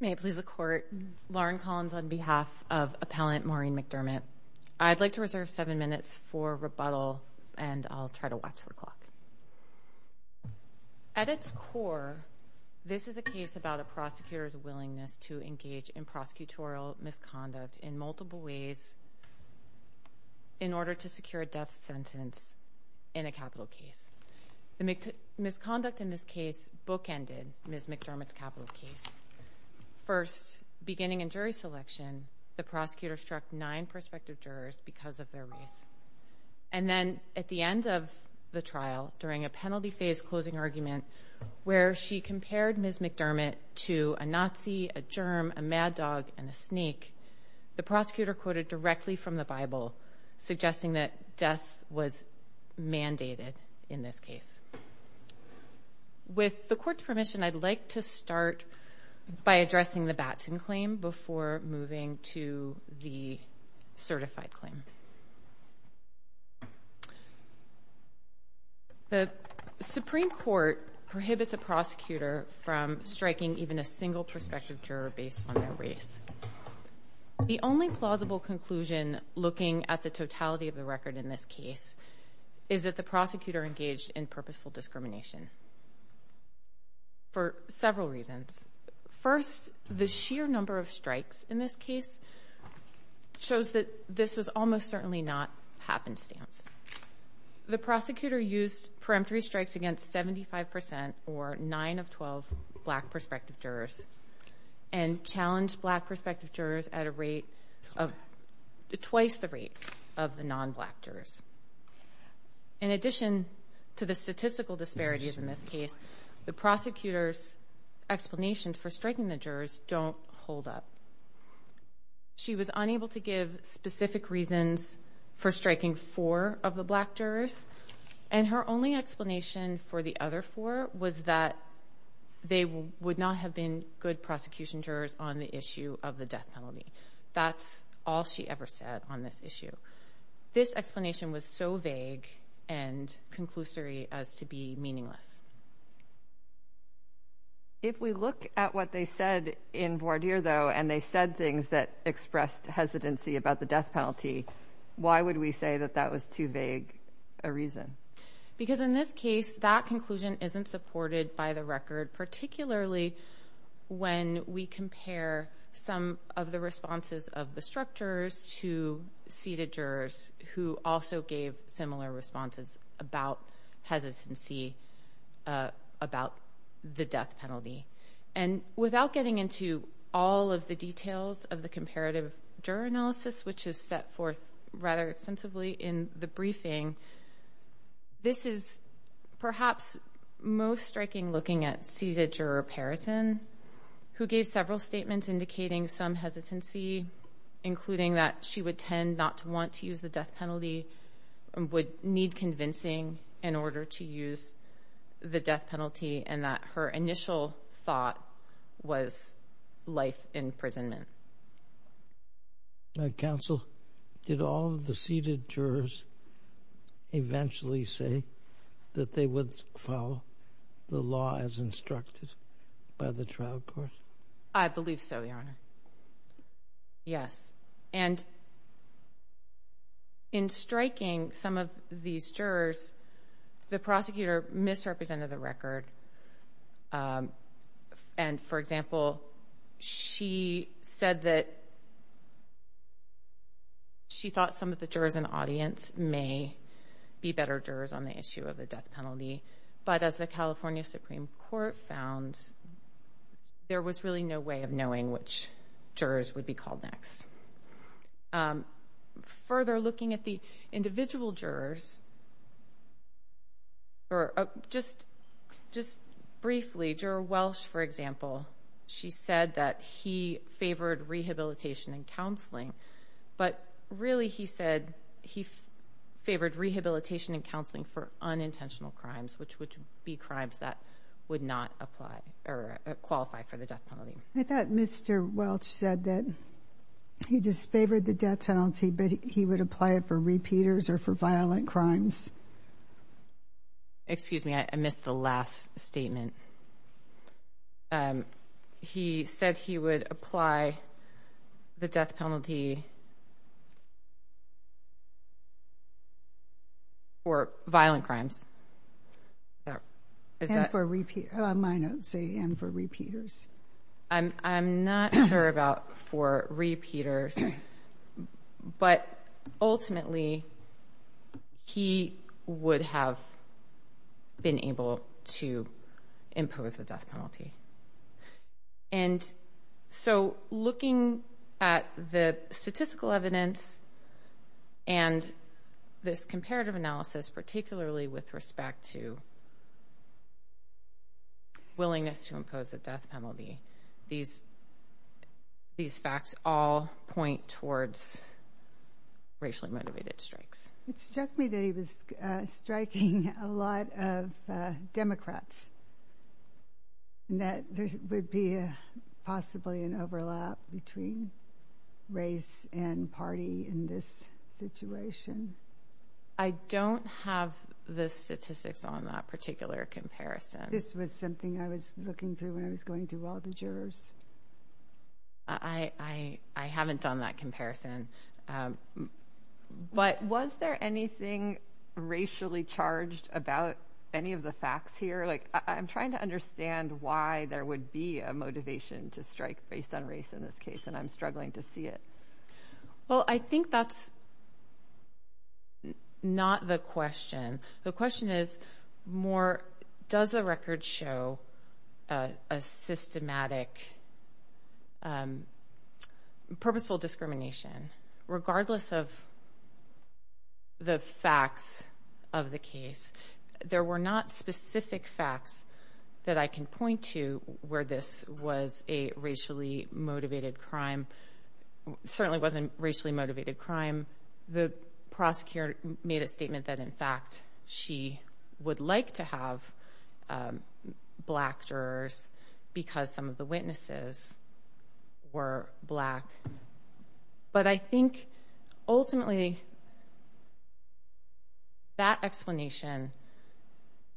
May it please the court, Lauren Collins on behalf of appellant Maureen McDermott. I'd like to reserve seven minutes for rebuttal and I'll try to watch the clock. At its core, this is a case about a prosecutor's willingness to engage in prosecutorial misconduct in multiple ways in order to secure a death sentence in a capital case. The misconduct in this case bookended Ms. McDermott's capital case. First, beginning in jury selection, the prosecutor struck nine prospective jurors because of their race. And then at the end of the trial, during a penalty phase closing argument, where she compared Ms. McDermott to a Nazi, a germ, a mad dog, and a sneak, the prosecutor quoted directly from the Bible, suggesting that death was mandated in this case. With the court's permission, I'd like to start by addressing the Batson claim before moving to the certified claim. The Supreme Court prohibits a prosecutor from striking even a single prospective juror based on their race. The only plausible conclusion looking at the totality of the record in this case is that the prosecutor engaged in purposeful discrimination for several reasons. First, the sheer number of strikes in this case shows that this was almost certainly not happenstance. The prosecutor used peremptory strikes against 75 percent, or nine of 12 black prospective jurors, and challenged black prospective jurors at a rate of twice the rate of the non-black jurors. In addition to the statistical disparities in this case, the prosecutor's explanations for striking the jurors don't hold up. She was unable to give specific reasons for striking four of the jurors. The only explanation for the other four was that they would not have been good prosecution jurors on the issue of the death penalty. That's all she ever said on this issue. This explanation was so vague and conclusory as to be meaningless. If we look at what they said in voir dire though, and they said things that expressed hesitancy about the death penalty, why would we say that that was too vague a reason? Because in this case, that conclusion isn't supported by the record, particularly when we compare some of the responses of the struck jurors to seated jurors who also gave similar responses about hesitancy about the death penalty. Without getting into all of the details of the comparative juror analysis, which is set forth rather extensively in the briefing, this is perhaps most striking looking at seated juror Parrison, who gave several statements indicating some hesitancy, including that she would tend not to want to use the death penalty, would need convincing in order to use the death penalty, and that her initial thought was life imprisonment. Counsel, did all of the seated jurors eventually say that they would follow the law as instructed by the trial court? I believe so, Your Honor. Yes. And in striking some of these jurors, the prosecutor misrepresented the record, and for example, she said that she thought some of the jurors in the audience may be better jurors on the issue of the death penalty, but as the California Supreme Court found, there was really no way of knowing which jurors would be called next. Further, looking at the individual jurors, or just briefly, Juror Welch, for example, she said that he favored rehabilitation and counseling, but really he said he favored rehabilitation and counseling for unintentional crimes, which would be crimes that would not apply or qualify for the death penalty. I thought Mr. Welch said that he disfavored the death penalty, but he would apply it for repeaters or for violent crimes. Excuse me, I missed the last statement. He said he would apply the death penalty for violent crimes. And for repeaters. My notes say and for repeaters. I'm not sure about for repeaters, but ultimately, he would have been able to impose the death penalty. And so, looking at the statistical evidence and this comparative analysis, particularly with respect to willingness to impose the death penalty, these facts all point towards racially motivated strikes. It struck me that he was striking a lot of Democrats, and that there would be possibly an overlap between race and party in this situation. I don't have the statistics on that particular comparison. This was something I was looking through when I was going through all the jurors. I haven't done that comparison. But was there anything racially charged about any of the facts here? Like, I'm trying to understand why there would be a motivation to strike based on race in this case, and I'm struggling to see it. Well, I think that's not the question. The question is more, does the record show a systematic, purposeful discrimination, regardless of the facts of the case? There were not specific facts that I can point to where this was a racially motivated crime. Certainly wasn't racially motivated crime. The prosecutor made a statement that, in fact, she would like to have black jurors because some of the witnesses were black. But I think, ultimately, that explanation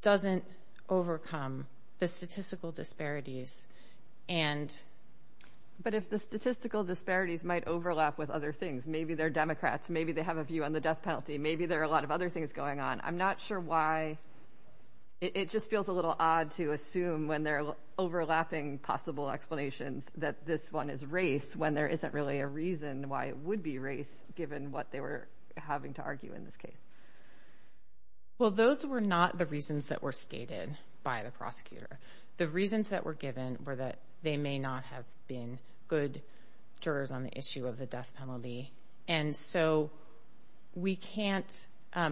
doesn't overcome the statistical disparities. But if the statistical disparities might overlap with other things, maybe they're Democrats, maybe they have a view on the death penalty, maybe there are a lot of other things going on. I'm not sure why. It just feels a little odd to assume, when they're overlapping possible explanations, that this one is race when there isn't really a reason why it would be race, given what they were having to argue in this case. Well, those were not the reasons that were stated by the prosecutor. The reasons that were given were that they may not have been good jurors on the issue of the death penalty. And so, we can't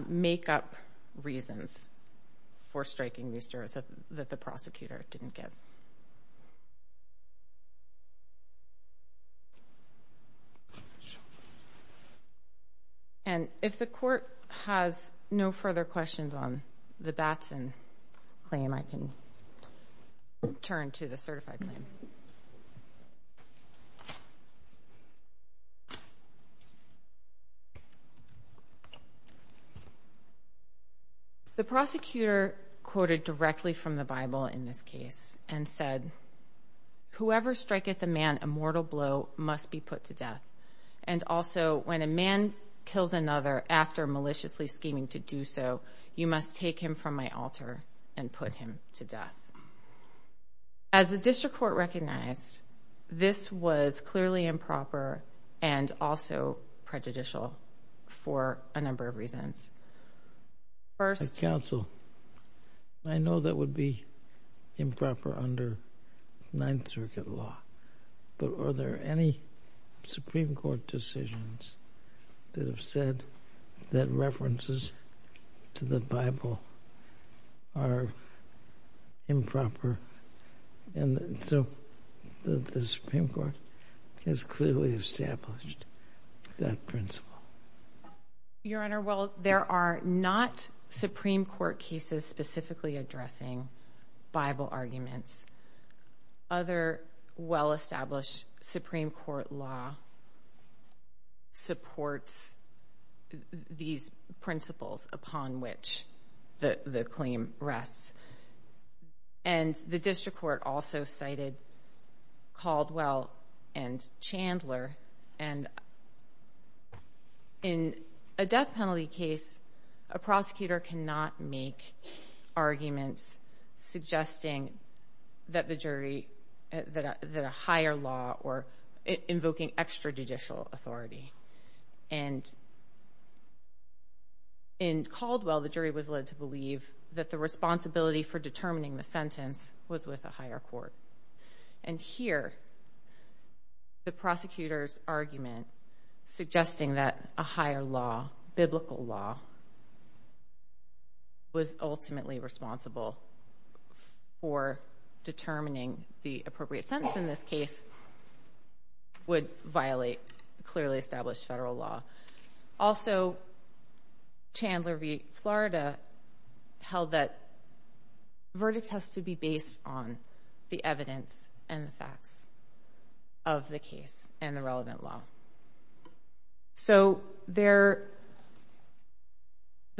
make up reasons for striking these jurors that the prosecutor didn't give. And if the court has no further questions on the Batson claim, I can turn to the certified claim. So, the prosecutor quoted directly from the Bible in this case and said, whoever striketh a man a mortal blow must be put to death. And also, when a man kills another after maliciously scheming to do so, you must take him from my altar and put him to death. As the district court recognized, this was clearly improper and also prejudicial for a number of reasons. First, counsel, I know that would be improper under Ninth Circuit law. But are there any Supreme Court decisions that have said that references to the Bible are improper? And so, the Supreme Court has clearly established that principle. Your Honor, well, there are not Supreme Court cases specifically addressing Bible arguments. Other well-established Supreme Court law supports these principles upon which the claim rests. And the district court also cited Caldwell and Chandler. And in a death penalty case, a prosecutor cannot make arguments suggesting that the jury, that a higher law or invoking extrajudicial authority. And in Caldwell, the jury was led to believe that the responsibility for determining the sentence was with a higher court. And here, the prosecutor's argument suggesting that a higher law, biblical law, was ultimately responsible for determining the appropriate sentence in this case would violate clearly established federal law. Also, Chandler v. Florida held that verdict has to be based on the evidence and the facts of the case and the relevant law. So, the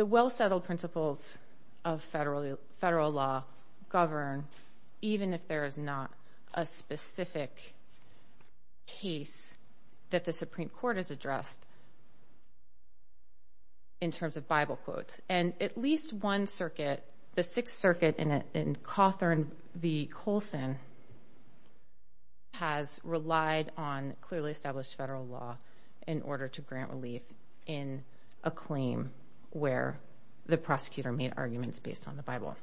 well-settled principles of federal law govern even if there is not a specific case that the Supreme Court has addressed in terms of Bible quotes. And at least one circuit, the Sixth Circuit in Cawthorn v. Colson, has relied on clearly established federal law in order to grant relief in a claim where the prosecutor made arguments based on the Bible.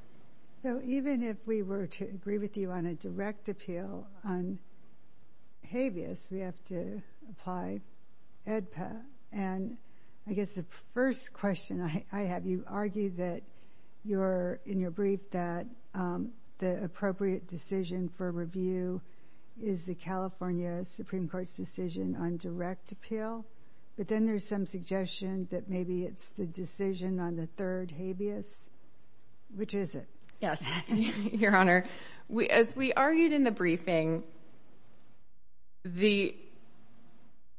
So, even if we were to agree with you on a direct appeal on habeas, we have to apply AEDPA. And I guess the first question I have, you argue that you're, in your brief, that the appropriate decision for review is the California Supreme Court's decision on direct appeal, but then there's some suggestion that maybe it's the decision on the third habeas, which is it? Yes, Your Honor. As we argued in the briefing, the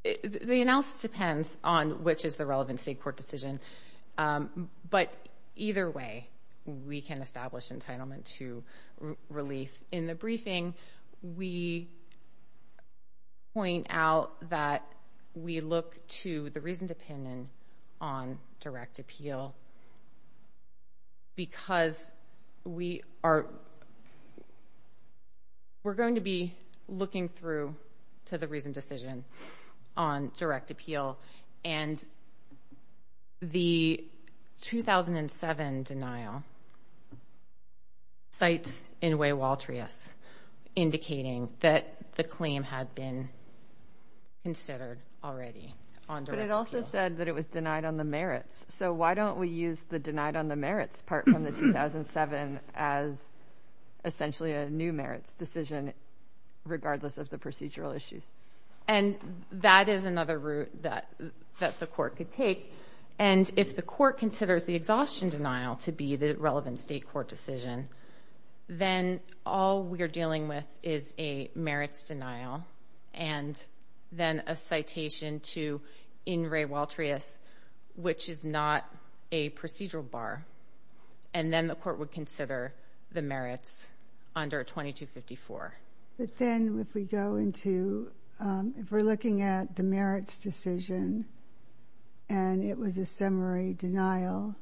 analysis depends on which is the relevant state court decision, but either way, we can establish entitlement to relief. In the briefing, we point out that we look to the reasoned opinion on direct appeal. Because we are, we're going to be looking through to the reasoned decision on direct appeal. And the 2007 denial cites Inouye-Waltrius indicating that the claim had been considered already on direct appeal. But it also said that it was denied on the merits. So why don't we use the denied on the merits part from the 2007 as essentially a new merits decision, regardless of the procedural issues? And that is another route that the court could take. And if the court considers the exhaustion denial to be the relevant state court decision, then all we are dealing with is a merits denial and then a citation to Inouye-Waltrius, which is not a procedural bar. And then the court would consider the merits under 2254. But then if we go into, if we're looking at the merits decision, and it was a summary denial,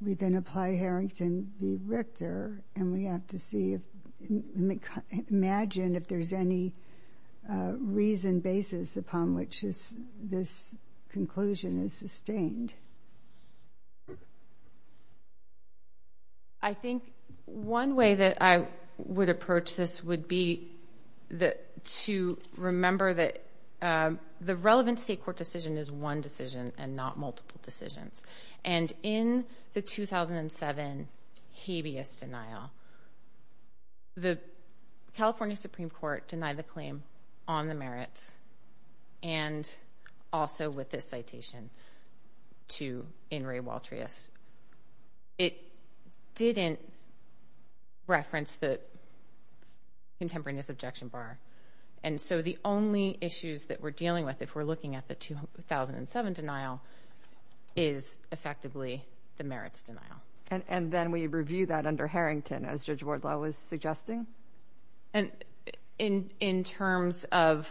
we then apply Harrington v. Richter, and we have to see if, imagine if there's any reasoned basis upon which this conclusion is sustained. I think one way that I would approach this would be to remember that the relevant state court decision is one decision and not multiple decisions. And in the 2007 habeas denial, the California Supreme Court denied the claim on the merits and also with this citation to Inouye-Waltrius. It didn't reference the contemporaneous objection bar. And so the only issues that we're dealing with, if we're looking at the 2007 denial, is effectively the merits denial. And then we review that under Harrington, as Judge Wardlaw was suggesting? And in terms of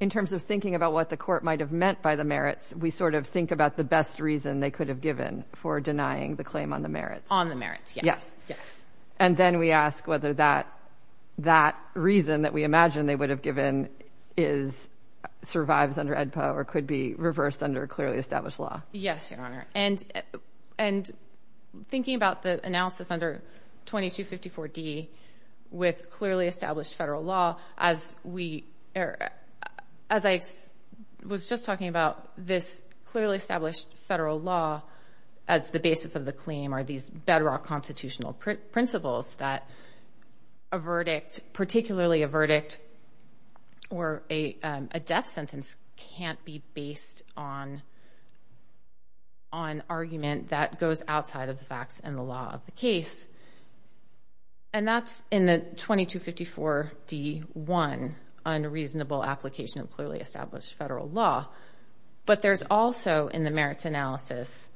thinking about what the court might have meant by the merits, we sort of think about the best reason they could have given for denying the claim on the merits. On the merits, yes. Yes. Yes. And then we ask whether that reason that we imagine they would have given is, survives under AEDPA or could be reversed under clearly established law. Yes, Your Honor. And thinking about the analysis under 2254D with clearly established federal law, as we, as I was just talking about, this clearly established federal law as the basis of the claim are these bedrock constitutional principles that a verdict, particularly a verdict or a death sentence, can't be based on argument that goes outside of the facts and the law of the case. And that's in the 2254D1, unreasonable application of clearly established federal law. But there's also, in the merits analysis,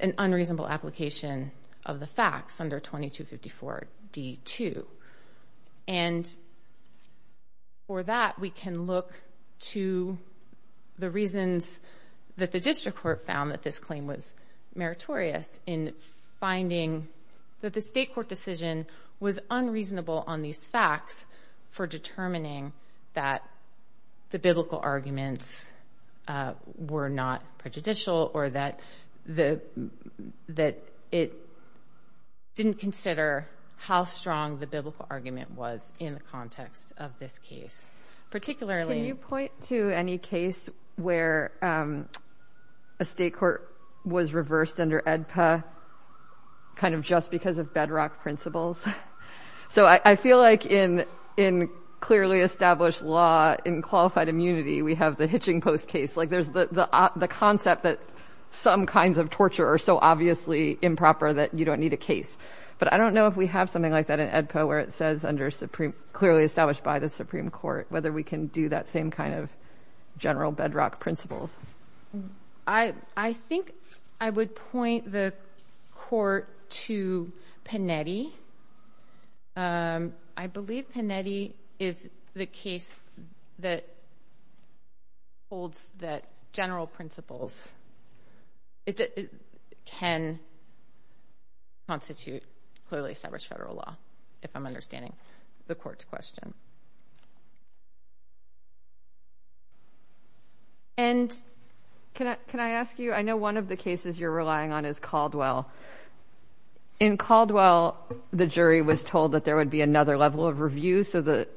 an unreasonable application of the facts under 2254D2. And for that, we can look to the reasons that the district court found that this claim was meritorious in finding that the state court decision was unreasonable on these facts for determining that the biblical arguments were not prejudicial or that it didn't consider how strong the biblical argument was in the context of this case, particularly. Can you point to any case where a state court was reversed under AEDPA, kind of just because of bedrock principles? So I feel like in clearly established law, in qualified immunity, we have the hitching post case, like there's the concept that some kinds of torture are so obviously improper that you don't need a case. But I don't know if we have something like that in AEDPA, where it says under clearly established by the Supreme Court, whether we can do that same kind of general bedrock principles. I think I would point the court to Panetti. I believe Panetti is the case that holds that general principles can constitute clearly established federal law, if I'm understanding the court's question. And can I ask you, I know one of the cases you're relying on is Caldwell. In Caldwell, the jury was told that there would be another level of review. So the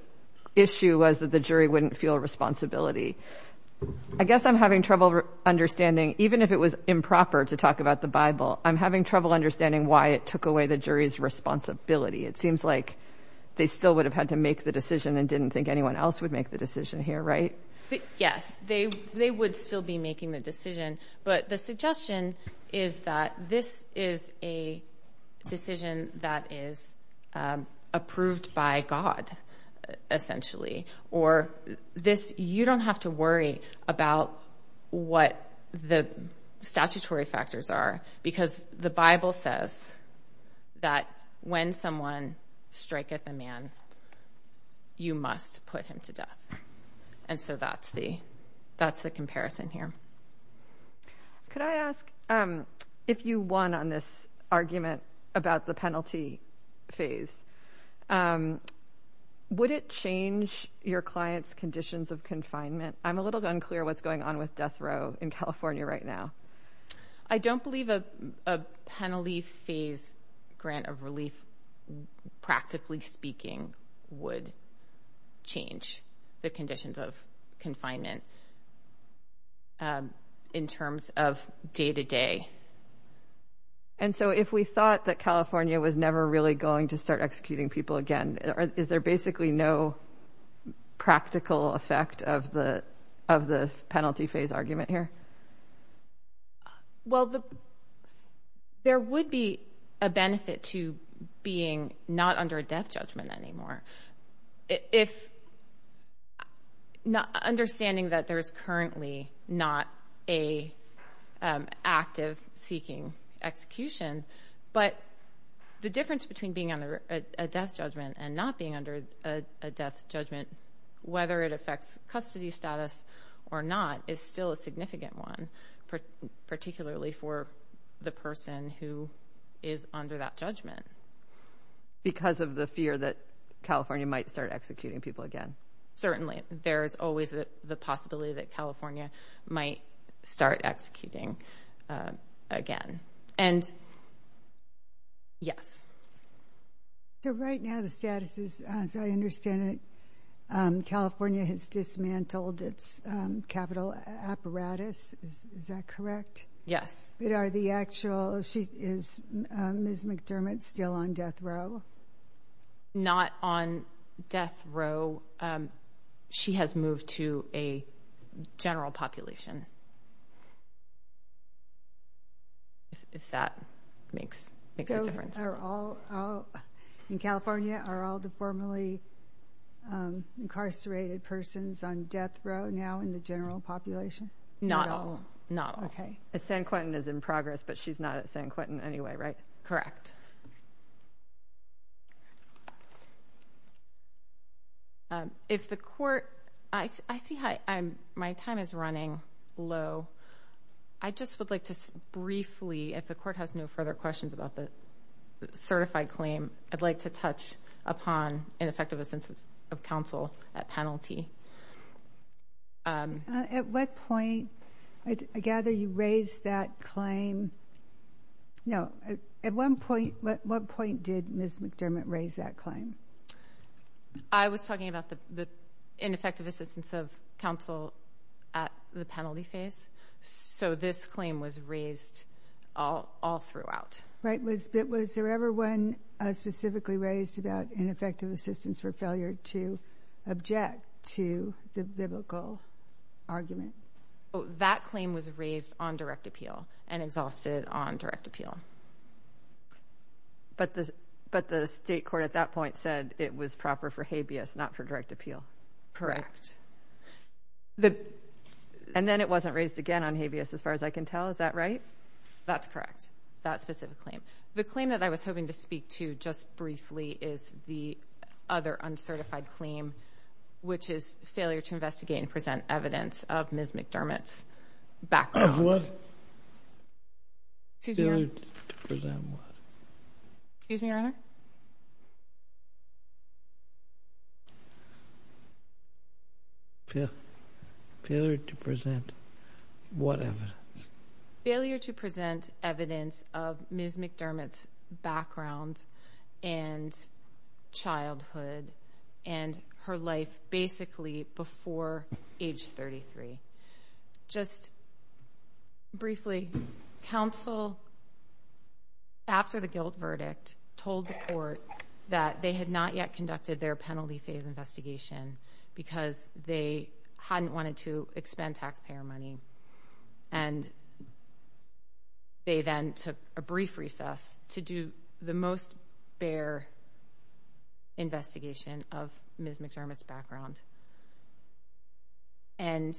I guess I'm having trouble understanding, even if it was improper to talk about the Bible, I'm having trouble understanding why it took away the jury's responsibility. It seems like they still would have had to make the decision and didn't think anyone else would make the decision here, right? Yes, they would still be making the decision. But the suggestion is that this is a decision that is approved by God, essentially. Or this, you don't have to worry about what the statutory factors are, because the Bible says that when someone strike at the man, you must put him to death. And so that's the comparison here. Could I ask, if you won on this argument about the penalty phase, would it change your client's conditions of confinement? I'm a little unclear what's going on with death row in California right now. I don't believe a penalty phase grant of relief, practically speaking, would change the conditions of confinement in terms of day to day. And so if we thought that California was never really going to start executing people again, is there basically no practical effect of the of the penalty phase argument here? Well, there would be a benefit to being not under a death judgment anymore. If not understanding that there is currently not a active seeking execution, but the difference between being under a death judgment and not being under a death judgment, whether it affects custody status or not, is still a significant one, particularly for the person who is under that judgment. Because of the fear that California might start executing people again? Certainly. There's always the possibility that California might start executing again. And yes. So right now the status is, as I understand it, California has dismantled its capital apparatus. Is that correct? Yes. Is Ms. McDermott still on death row? Not on death row. She has moved to a general population. If that makes a difference. In California are all the formerly incarcerated persons on death row now in the general population? Not all. Not all. Okay. San Quentin is in progress, but she's not at San Quentin anyway, right? Correct. If the court, I see my time is running low. I just would like to briefly, if the court has no further questions about the certified claim, I'd like to touch upon ineffective assistance of counsel at penalty. At what point, I gather you raised that claim? No. At what point did Ms. McDermott raise that claim? I was talking about the ineffective assistance of counsel at the penalty phase. So this claim was raised all throughout. Right. But was there ever one specifically raised about ineffective assistance for failure to object to the biblical argument? That claim was raised on direct appeal and exhausted on direct appeal. But the state court at that point said it was proper for habeas, not for direct appeal. Correct. And then it wasn't raised again on habeas as far as I can tell. Is that right? That's correct. That specific claim. The claim that I was hoping to speak to just briefly is the other uncertified claim, which is failure to investigate and present evidence of Ms. McDermott's background. Failure to present what? Excuse me, Your Honor? evidence of Ms. McDermott's background and childhood and her life basically before age 33. Just briefly, counsel, after the guilt verdict, told the court that they had not yet conducted their penalty phase investigation because they hadn't wanted to expend taxpayer money. And they then took a brief recess to do the most bare investigation of Ms. McDermott's background. And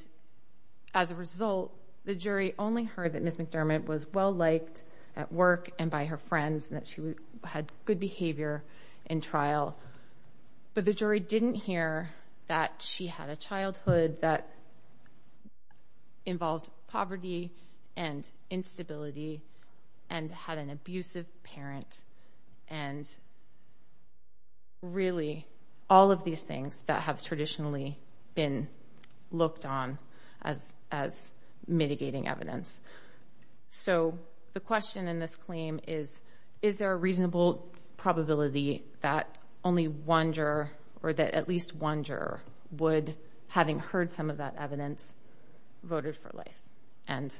as a result, the jury only heard that Ms. McDermott was well liked at work and by her friends and that she had good behavior in trial. But the jury didn't hear that she had a childhood that involved poverty and instability and had an abusive parent and really all of these things that have traditionally been looked on as mitigating evidence. So the question in this claim is, is there a reasonable probability that only one juror or that at least one juror would, having heard some of that evidence, voted for life? And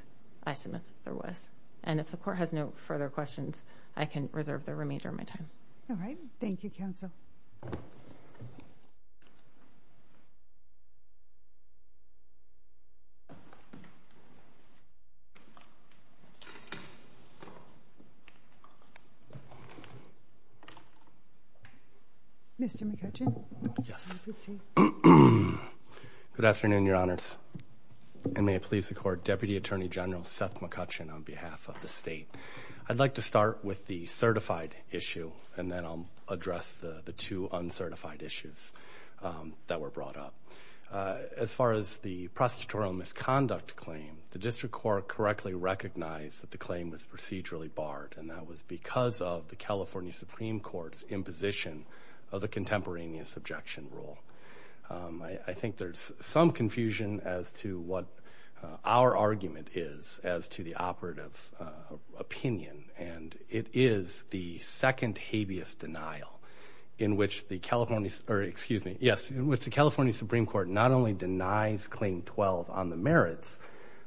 I submit there was. And if the court has no further questions, I can reserve the remainder of my time. All right. Thank you, counsel. Mr. McCutcheon? Yes. Good afternoon, Your Honors. And may it please the court, Deputy Attorney General Seth McCutcheon on behalf of the state. I'd like to start with the certified issue and then I'll address the two uncertified issues that were brought up. As far as the prosecutorial misconduct claim, the district court correctly recognized that the claim was procedurally barred and that was because of the California Supreme Court's imposition of the contemporaneous objection rule. I think there's some confusion as to what our argument is as to operative opinion. And it is the second habeas denial in which the California, or excuse me, yes, in which the California Supreme Court not only denies claim 12 on the merits,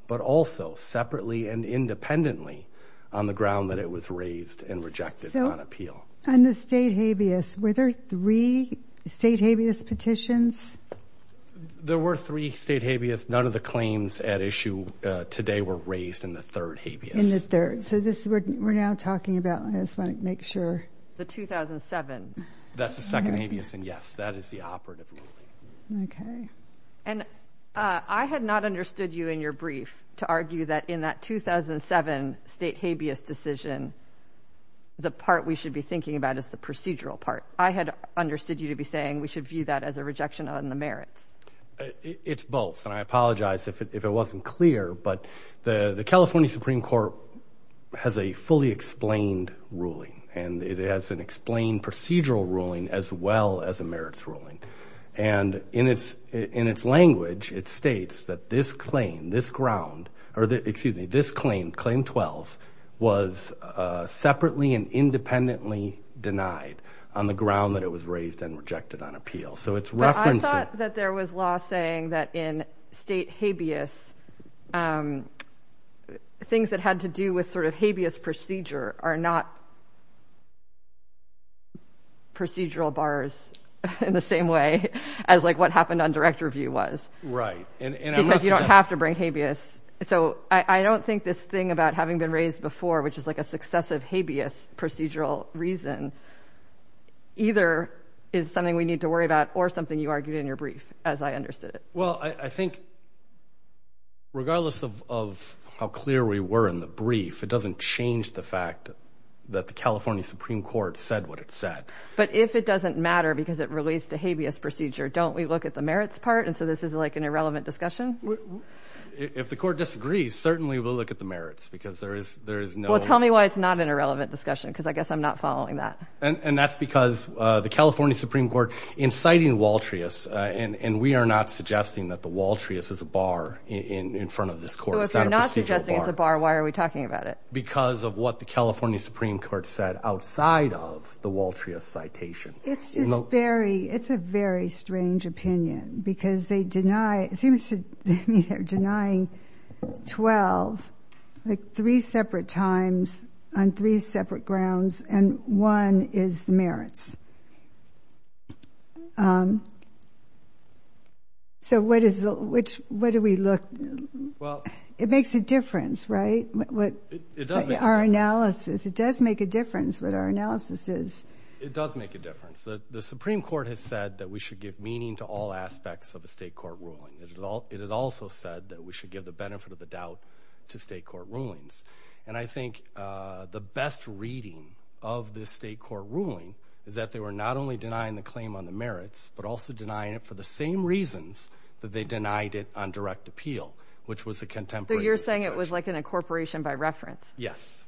but also separately and independently on the ground that it was raised and rejected on appeal. And the state habeas, were there three state habeas petitions? There were three state habeas. None of the claims at issue today were raised in the third habeas. In the third. So this is what we're now talking about. I just want to make sure. The 2007. That's the second habeas and yes, that is the operative ruling. Okay. And I had not understood you in your brief to argue that in that 2007 state habeas decision, the part we should be thinking about is the procedural part. I had understood you to be on the merits. It's both. And I apologize if it wasn't clear, but the California Supreme Court has a fully explained ruling and it has an explained procedural ruling as well as a merits ruling. And in its language, it states that this claim, this ground, or excuse me, this claim, claim 12 was separately and independently denied on the ground that it was raised and rejected on appeal. I thought that there was law saying that in state habeas, things that had to do with sort of habeas procedure are not procedural bars in the same way as like what happened on direct review was. Right. Because you don't have to bring habeas. So I don't think this thing about having been raised before, which is like a successive habeas procedural reason, either is something we need to worry about or something you argued in your brief as I understood it. Well, I think. Regardless of how clear we were in the brief, it doesn't change the fact that the California Supreme Court said what it said. But if it doesn't matter because it released a habeas procedure, don't we look at the merits part? And so this is like an irrelevant discussion. If the court disagrees, certainly we'll look at the merits because there is there is no. Well, tell me why it's not an irrelevant discussion, because I guess I'm not following that. And that's because the California Supreme Court inciting Waltrius and we are not suggesting that the Waltrius is a bar in front of this court. If you're not suggesting it's a bar, why are we talking about it? Because of what the California Supreme Court said outside of the Waltrius citation. It's just very it's a very strange opinion because they deny it seems to me denying 12, like three separate times on three separate grounds. And one is the merits. So what is the which way do we look? Well, it makes a difference, right? What our analysis it does make a difference. But our analysis is it does make a difference. The Supreme Court has said that we should give meaning to all aspects of a state court ruling. It has also said that we should give the benefit of the doubt to state court rulings. And I think the best reading of the state court ruling is that they were not only denying the claim on the merits, but also denying it for the same reasons that they denied it on direct appeal, which was a contemporary. You're saying it was like an incorporation by reference? Yes.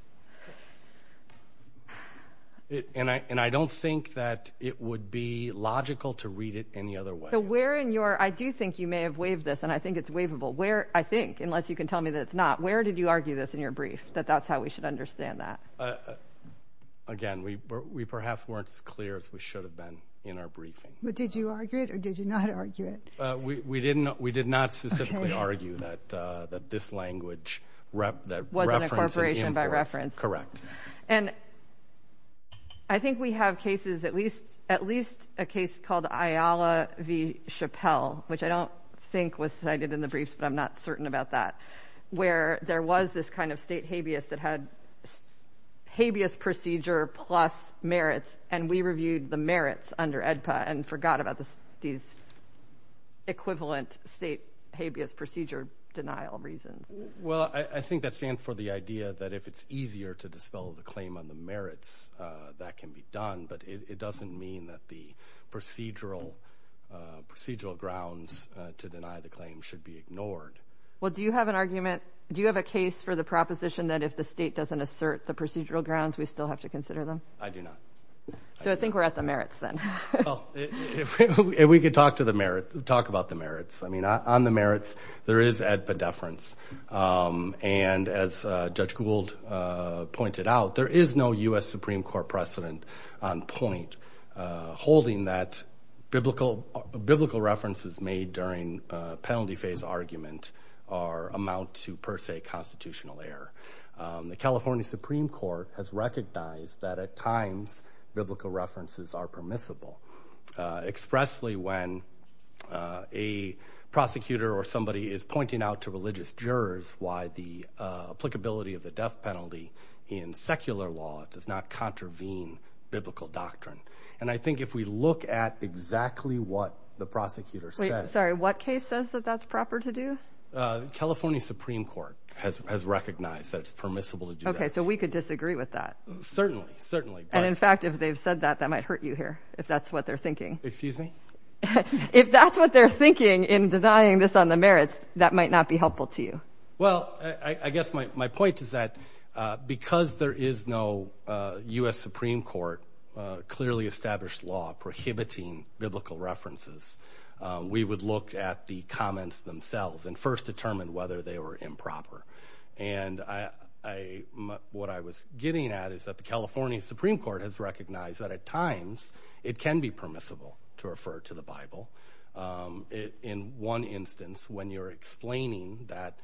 And I and I don't think that it would be logical to read it any other way. I do think you may have waived this and I think it's waivable where I think unless you can tell me that it's not. Where did you argue this in your brief that that's how we should understand that? Again, we perhaps weren't as clear as we should have been in our briefing. But did you argue it or did you not argue it? We did not. We did not specifically argue that that this language that was an incorporation by reference. Correct. And I think we have cases at least at least a Chappelle, which I don't think was cited in the briefs, but I'm not certain about that, where there was this kind of state habeas that had habeas procedure plus merits. And we reviewed the merits under AEDPA and forgot about this. These equivalent state habeas procedure denial reasons. Well, I think that stands for the idea that if it's easier to dispel the claim on the procedural grounds to deny the claim should be ignored. Well, do you have an argument? Do you have a case for the proposition that if the state doesn't assert the procedural grounds, we still have to consider them? I do not. So I think we're at the merits then. If we could talk to the merits, talk about the merits. I mean, on the merits, there is AEDPA deference. And as Judge Gould pointed out, there is no U.S. Supreme Court precedent on point holding that biblical references made during penalty phase argument are amount to per se constitutional error. The California Supreme Court has recognized that at times biblical references are permissible. Expressly when a prosecutor or somebody is pointing out to religious jurors why the applicability of the death penalty in secular law does not contravene biblical doctrine. And I think if we look at exactly what the prosecutor says. Sorry, what case says that that's proper to do? California Supreme Court has recognized that it's permissible to do that. OK, so we could disagree with that. Certainly. Certainly. And in fact, if they've said that, that might hurt you here if that's what they're thinking. Excuse me? If that's what they're thinking in denying this on the merits, that might not be helpful to you. Well, I guess my point is that because there is no U.S. Supreme Court clearly established law prohibiting biblical references, we would look at the comments themselves and first determine whether they were improper. And what I was getting at is that the California Supreme Court has recognized that at times it can be permissible to refer to the Bible. In one instance, when you're explaining that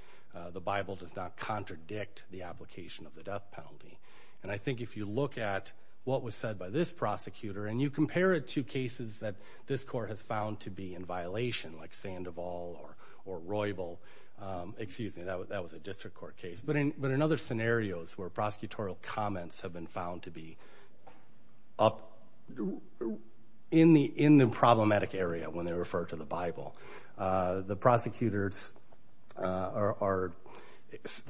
the Bible does not contradict the application of the death penalty. And I think if you look at what was said by this prosecutor and you compare it to cases that this court has found to be in violation, like Sandoval or Roybal, excuse me, that was a district court case. But in other scenarios where prosecutorial comments have been found to be up in the problematic area when they are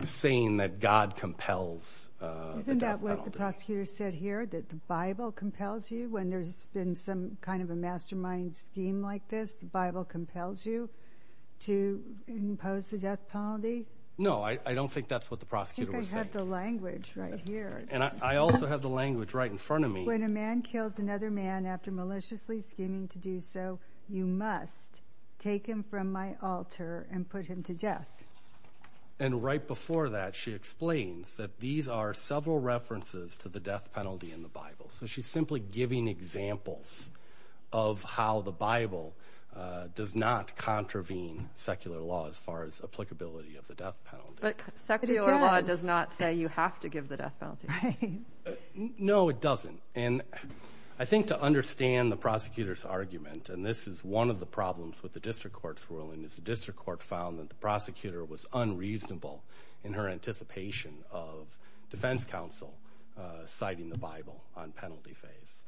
saying that God compels. Isn't that what the prosecutor said here that the Bible compels you when there's been some kind of a mastermind scheme like this, the Bible compels you to impose the death penalty? No, I don't think that's what the prosecutor was saying. I think I have the language right here. And I also have the language right in front of me. When a man kills another man after maliciously scheming to do so, you must take him from my altar and put him to death. And right before that, she explains that these are several references to the death penalty in the Bible. So she's simply giving examples of how the Bible does not contravene secular law as far as applicability of the death penalty. But secular law does not say you have to give the death penalty. No, it doesn't. And I think to understand the prosecutor's argument, and this is one of the problems with the district court's ruling, is the district court found that the prosecutor was unreasonable in her anticipation of defense counsel citing the Bible on penalty phase.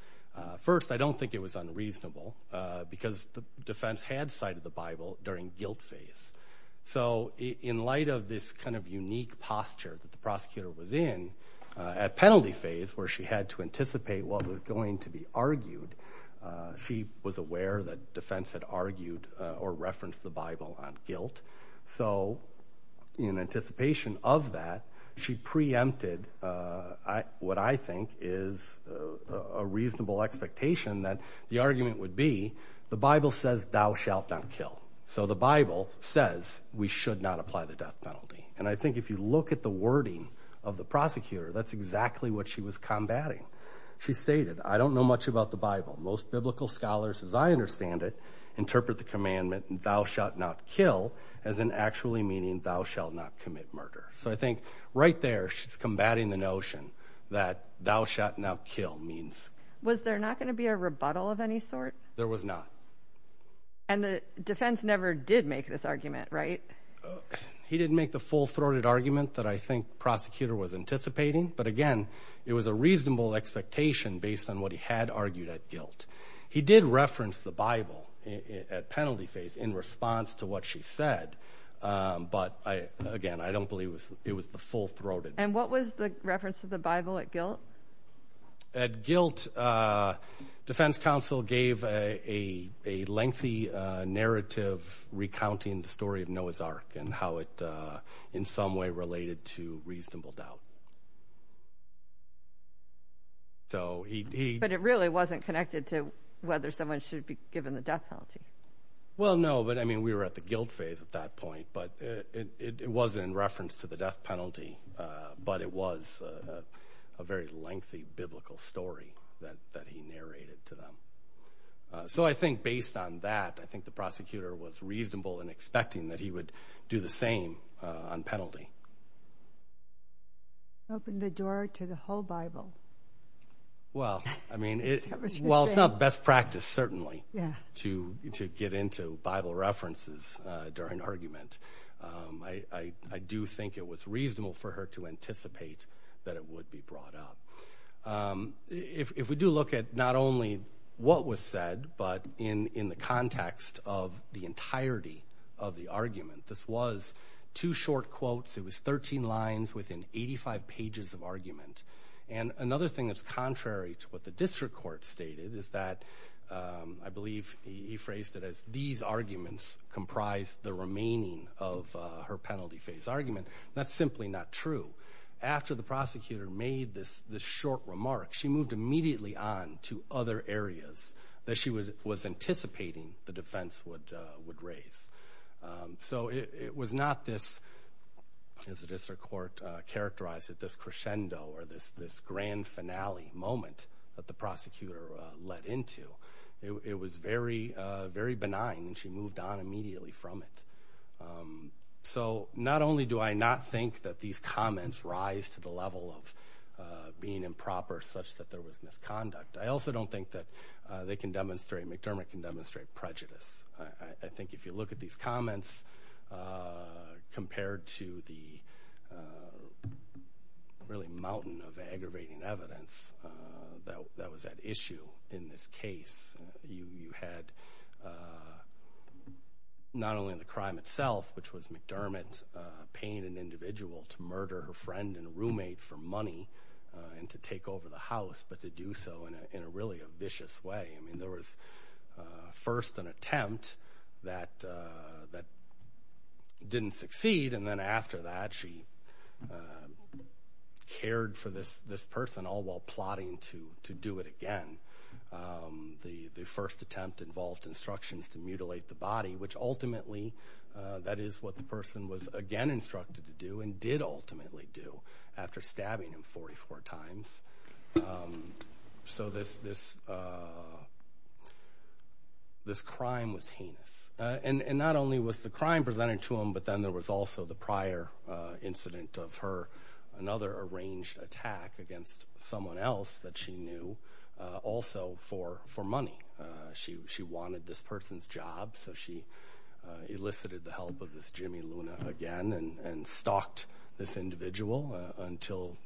First, I don't think it was unreasonable because the defense had cited the Bible during guilt phase. So in light of this kind of unique posture that the prosecutor was in at penalty phase where she had to anticipate what was going to be argued, she was aware that defense had argued or referenced the Bible on guilt. So in anticipation of that, she preempted what I think is a reasonable expectation that the argument would be the Bible says thou shalt not kill. So the Bible says we should not apply the death penalty. And I think if you look at the wording of the prosecutor, that's exactly what she was combating. She stated, I don't know much about the Bible. Most biblical scholars, as I understand it, interpret the commandment thou shalt not kill as an actually meaning thou shall not commit murder. So I think right there she's combating the notion that thou shalt not kill means. Was there not going to be a rebuttal of any sort? There was not. And the defense never did make this argument, right? He didn't make the full throated argument that I think prosecutor was anticipating. But again, it was a reasonable expectation based on what he had argued at guilt. He did reference the Bible at penalty phase in response to what she said. But again, I don't believe it was the full throated. And what was reference to the Bible at guilt? At guilt, defense counsel gave a lengthy narrative recounting the story of Noah's Ark and how it in some way related to reasonable doubt. So he, but it really wasn't connected to whether someone should be given the death penalty. Well, no, but I mean, we were at the guilt phase at that point, but it wasn't in reference to the Bible. It was a very lengthy biblical story that he narrated to them. So I think based on that, I think the prosecutor was reasonable in expecting that he would do the same on penalty. Open the door to the whole Bible. Well, I mean, well, it's not best practice certainly to get into Bible references during argument. I do think it was reasonable for her to anticipate that it would be brought up. If we do look at not only what was said, but in the context of the entirety of the argument, this was two short quotes. It was 13 lines within 85 pages of argument. And another thing that's contrary to what the district court stated is that I believe he phrased it as these arguments comprised the remaining of her penalty phase argument. That's simply not true. After the prosecutor made this short remark, she moved immediately on to other areas that she was anticipating the defense would raise. So it was not this, as the district court characterized it, this crescendo or this grand finale moment that the prosecutor led into. It was very benign and she moved on immediately from it. So not only do I not think that these comments rise to the level of being improper such that there was misconduct, I also don't think that McDermott can demonstrate prejudice. I think if you look at these comments compared to the really mountain of aggravating evidence that was at issue in this case, you had not only the crime itself, which was McDermott paying an individual to murder her friend and roommate for money and to take over the house, but to do so in a really vicious way. I mean, there was first an attempt that didn't succeed and then after that she cared for this person all while plotting to do it again. The first attempt involved instructions to mutilate the body, which ultimately, that is what the person was again instructed to do and did ultimately do after stabbing him 44 times. So this crime was the prior incident of her, another arranged attack against someone else that she knew, also for money. She wanted this person's job, so she elicited the help of this Jimmy Luna again and stalked this individual until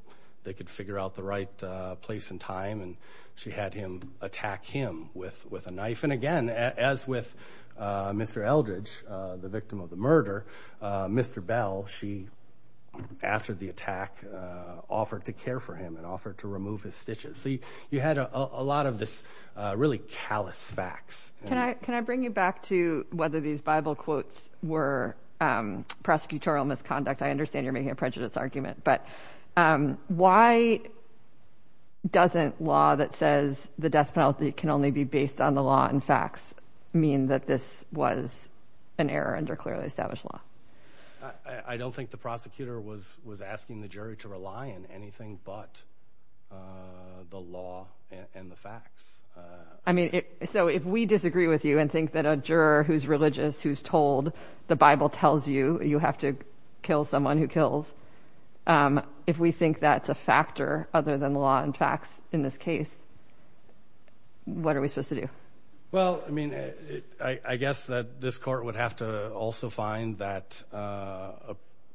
they could figure out the right place and time and she had attack him with a knife. And again, as with Mr. Eldridge, the victim of the murder, Mr. Bell, she, after the attack, offered to care for him and offered to remove his stitches. So you had a lot of this really callous facts. Can I bring you back to whether these Bible quotes were prosecutorial misconduct? I understand you're making a prejudice argument, but why doesn't law that says the death penalty can only be based on the law and facts mean that this was an error under clearly established law? I don't think the prosecutor was asking the jury to rely on anything but the law and the facts. I mean, so if we disagree with you and think that a juror who's religious, who's told the Bible tells you you have to kill someone who kills, um, if we think that's a factor other than the law and facts in this case, what are we supposed to do? Well, I mean, I guess that this court would have to also find that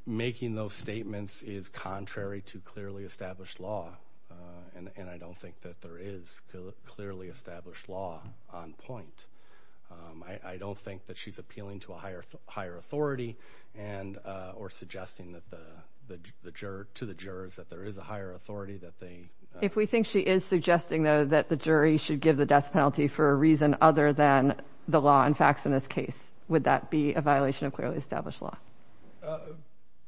making those statements is contrary to clearly established law. And I don't think that there is clearly established law on point. I don't think that she's appealing to a higher, higher authority and or suggesting that the juror to the jurors that there is a higher authority that they if we think she is suggesting, though, that the jury should give the death penalty for a reason other than the law and facts in this case, would that be a violation of clearly established law?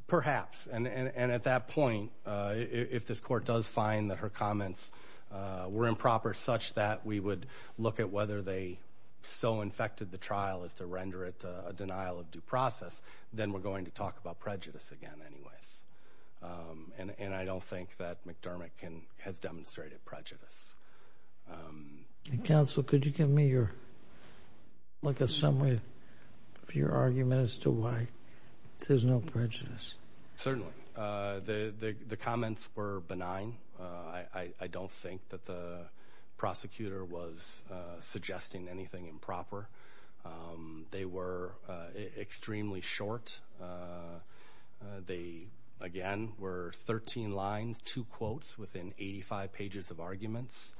Perhaps. And at that point, if this court does find that her comments were improper such that we would look at whether they so infected the trial is to render it a denial of due process. Then we're going to talk about prejudice again anyways. And I don't think that McDermott can has demonstrated prejudice. Counsel, could you give me your like a summary of your argument as to why there's no prejudice? Certainly, the comments were benign. I don't think that the prosecutor was suggesting anything improper. They were extremely short. They, again, were 13 lines, two quotes within 85 pages of arguments.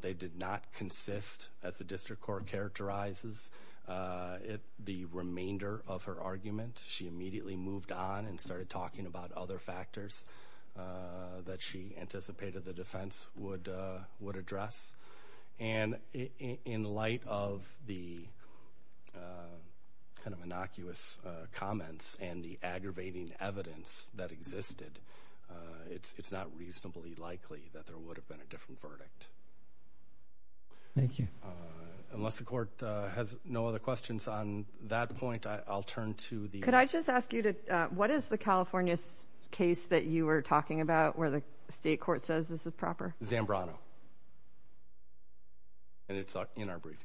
They did not consist as the district court characterizes it. The remainder of her argument, she immediately moved on and started talking about other factors that she anticipated the defense would would address. And in light of the kind of innocuous comments and the aggravating evidence that existed, it's not reasonably likely that there would have been a different verdict. Thank you. Unless the court has no other questions on that point, I'll turn to the. Could I just ask you to what is the California case that you were talking about where the state court says this is proper? Zambrano. And it's in our briefing.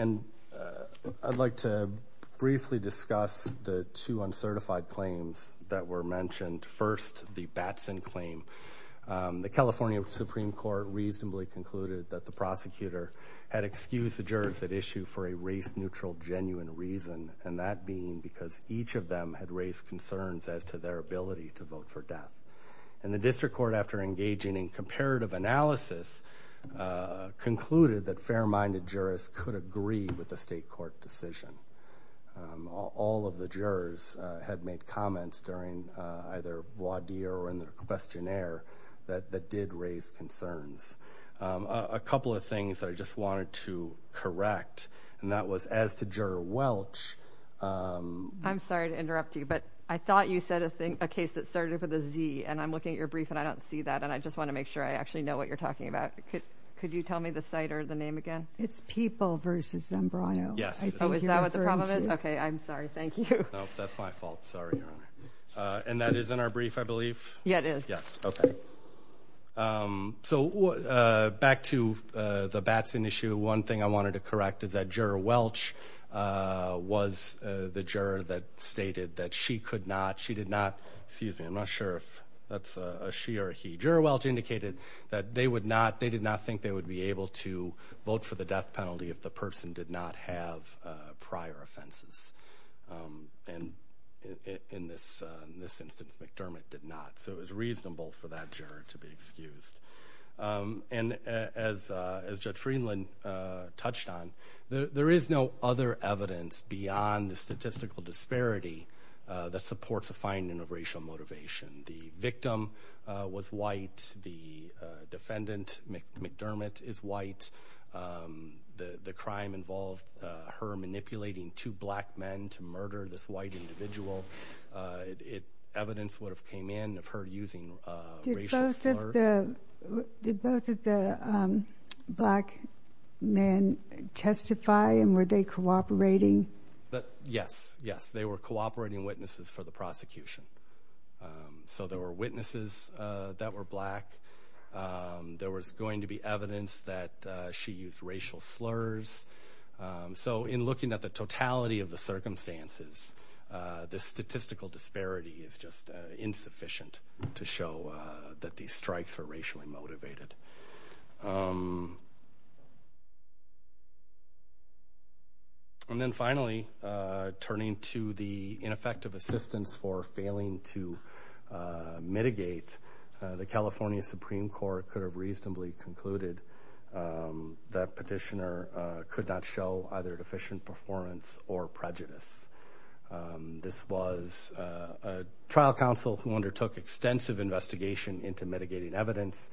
And I'd like to briefly discuss the two uncertified claims that were mentioned. First, the Batson claim. The California Supreme Court reasonably concluded that the prosecutor had excused the them had raised concerns as to their ability to vote for death. And the district court, after engaging in comparative analysis, concluded that fair-minded jurists could agree with the state court decision. All of the jurors had made comments during either voir dire or in the questionnaire that did raise concerns. A couple of things I just wanted to correct, and that was as to interrupt you, but I thought you said a thing, a case that started with a Z. And I'm looking at your brief, and I don't see that. And I just want to make sure I actually know what you're talking about. Could you tell me the site or the name again? It's People versus Zambrano. Yes. Oh, is that what the problem is? Okay. I'm sorry. Thank you. No, that's my fault. Sorry, Your Honor. And that is in our brief, I believe? Yeah, it is. Yes. Okay. So back to the Batson issue, one thing I wanted to correct is that Juror Welch was the juror that stated that she could not, she did not, excuse me, I'm not sure if that's a she or a he. Juror Welch indicated that they would not, they did not think they would be able to vote for the death penalty if the person did not have prior offenses. And in this instance, McDermott did not. So it was reasonable for that touched on. There is no other evidence beyond the statistical disparity that supports a finding of racial motivation. The victim was white. The defendant, McDermott, is white. The crime involved her manipulating two black men to murder this white individual. Evidence would have came of her using racial slurs. Did both of the black men testify and were they cooperating? Yes, yes. They were cooperating witnesses for the prosecution. So there were witnesses that were black. There was going to be evidence that she used racial slurs. So in looking at the to show that these strikes were racially motivated. And then finally, turning to the ineffective assistance for failing to mitigate, the California Supreme Court could have reasonably concluded that petitioner could not show either deficient performance or prejudice. Um, this was a trial counsel who undertook extensive investigation into mitigating evidence.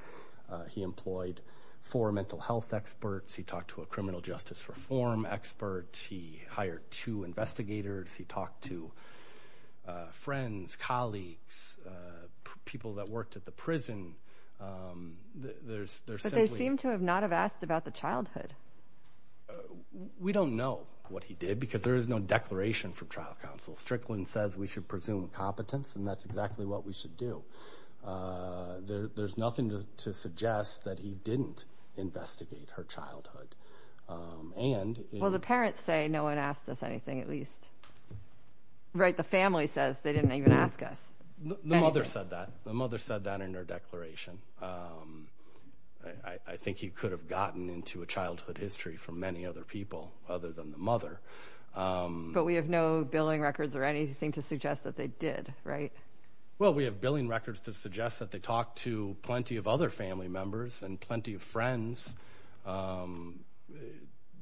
He employed four mental health experts. He talked to a criminal justice reform expert. He hired two investigators. He talked to friends, colleagues, people that worked at the prison. There's there seem to have not have asked about the childhood. Uh, we don't know what he did because there is no declaration from trial counsel. Strickland says we should presume competence, and that's exactly what we should do. Uh, there's nothing to suggest that he didn't investigate her childhood. Um, and well, the parents say no one asked us anything at least, right? The family says they didn't even ask us. The mother said that the mother said that in her declaration. Um, I think he could have gotten into a childhood history for many other people other than the mother. Um, but we have no billing records or anything to suggest that they did, right? Well, we have billing records to suggest that they talked to plenty of other family members and plenty of friends. Um,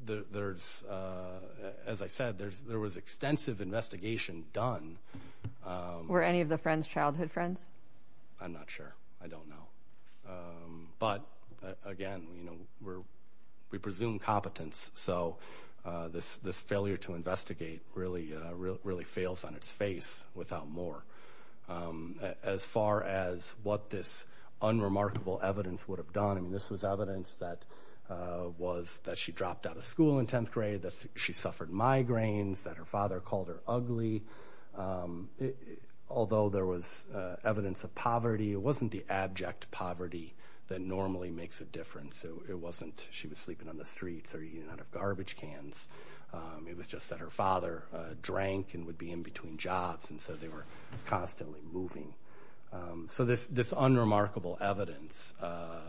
there's, uh, as I said, there's there was extensive investigation done. Were any of the friends childhood friends? I'm not sure. I don't know. Um, but again, you know, we're we presume competence. So, uh, this this failure to investigate really, really, really fails on its face without more. Um, as far as what this unremarkable evidence would have done. I mean, this was evidence that, uh, was that she dropped out of school in 10th grade that she suffered migraines that her father called her ugly. Um, although there was evidence of poverty, it wasn't the abject poverty that normally makes a difference. So it wasn't she was sleeping on the streets or eating out of garbage cans. Um, it was just that her father drank and would be in between jobs. And so they were constantly moving. Um, so this, this unremarkable evidence, uh,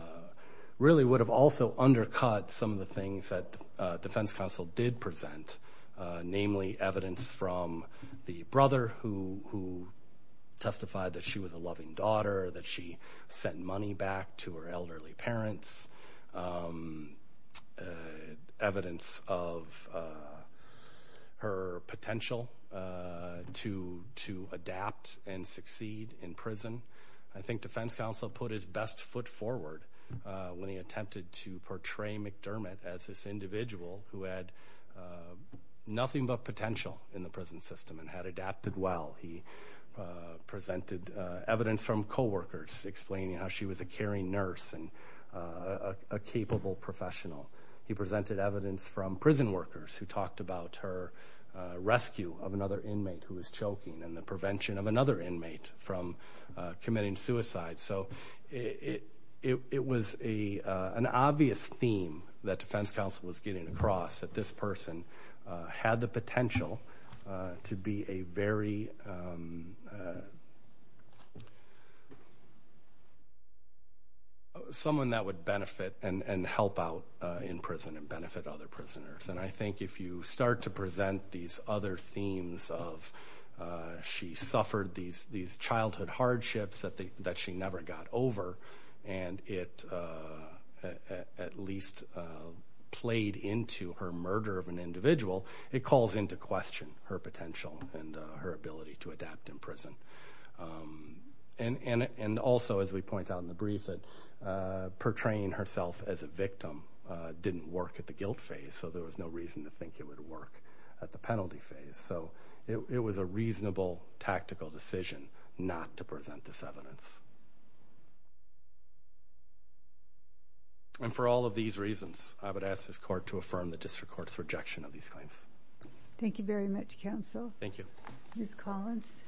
really would have also undercut some of the things that, uh, defense counsel did present, uh, namely evidence from the brother who who testified that she was a loving daughter, that she sent money back to her elderly parents. Um, uh, evidence of, uh, her potential, uh, to to adapt and succeed in prison. I think defense counsel put his best foot forward, uh, when he attempted to portray McDermott as this individual who had, uh, nothing but potential in the prison system and had adapted well. He, uh, presented, uh, evidence from co-workers explaining how she was a caring nurse and, uh, a capable professional. He presented evidence from prison workers who talked about her, uh, rescue of another inmate who was choking and prevention of another inmate from, uh, committing suicide. So it, it, it, it was a, uh, an obvious theme that defense counsel was getting across that this person, uh, had the potential, uh, to be a very, um, uh, someone that would benefit and, and help out, uh, in prison and benefit other prisoners. And I think if you start to present these other themes of, uh, she suffered these, these childhood hardships that they, that she never got over and it, uh, at, at least, uh, played into her murder of an individual, it calls into question her potential and, uh, her ability to adapt in prison. Um, and, and, and also as we point out in the brief that, uh, portraying herself as a victim, uh, didn't work at the guilt phase. So there was no reason to think it would work at the penalty phase. So it was a reasonable tactical decision not to present this evidence. And for all of these reasons, I would ask this court to affirm the district court's rejection of these claims. Thank you very much counsel. Thank you. Ms. Collins.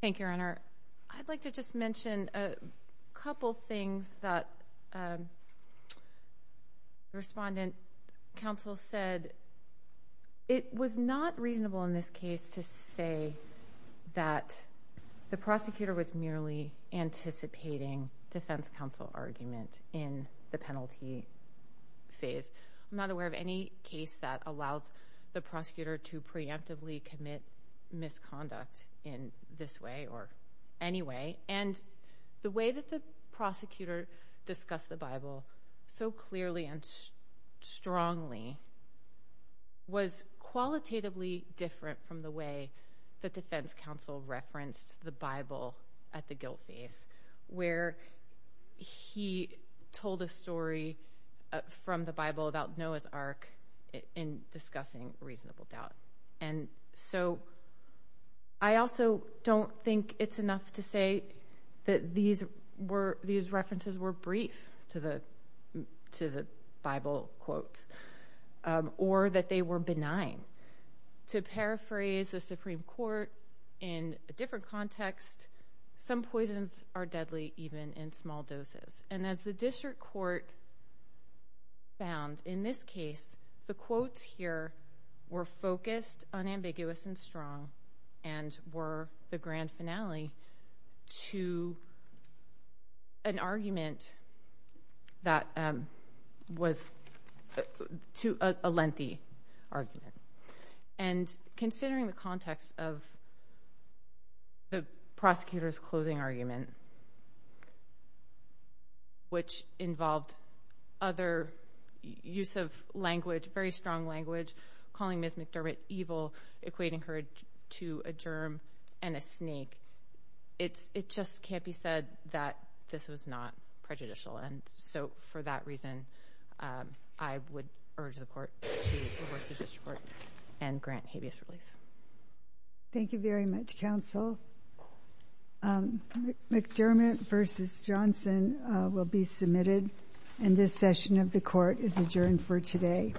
Thank you, Your Honor. I'd like to just mention a couple things that, um, respondent counsel said. It was not reasonable in this case to say that the prosecutor was merely anticipating defense counsel argument in the penalty phase. I'm not aware of any case that allows the prosecutor to preemptively commit misconduct in this way or any way. And the way that the prosecutor discussed the Bible so clearly and strongly was qualitatively different from the way the defense counsel referenced the Bible at the guilt phase, where he told a story from the Bible about Noah's Ark in discussing reasonable doubt. And so I also don't think it's enough to say that these were, these references were brief to the, to the Bible quotes, um, or that they were benign. To paraphrase the Supreme Court in a different context, some poisons are found. In this case, the quotes here were focused, unambiguous, and strong, and were the grand finale to an argument that, um, was to a lengthy argument. And considering the context of the prosecutor's closing argument, which involved other use of language, very strong language, calling Ms. McDermott evil, equating her to a germ and a snake, it's, it just can't be said that this was not prejudicial. And so for that reason, um, I would urge the court to divorce the district court and grant habeas relief. Thank you very much, counsel. Um, McDermott versus Johnson, uh, will be submitted. And this session of the court is adjourned for today.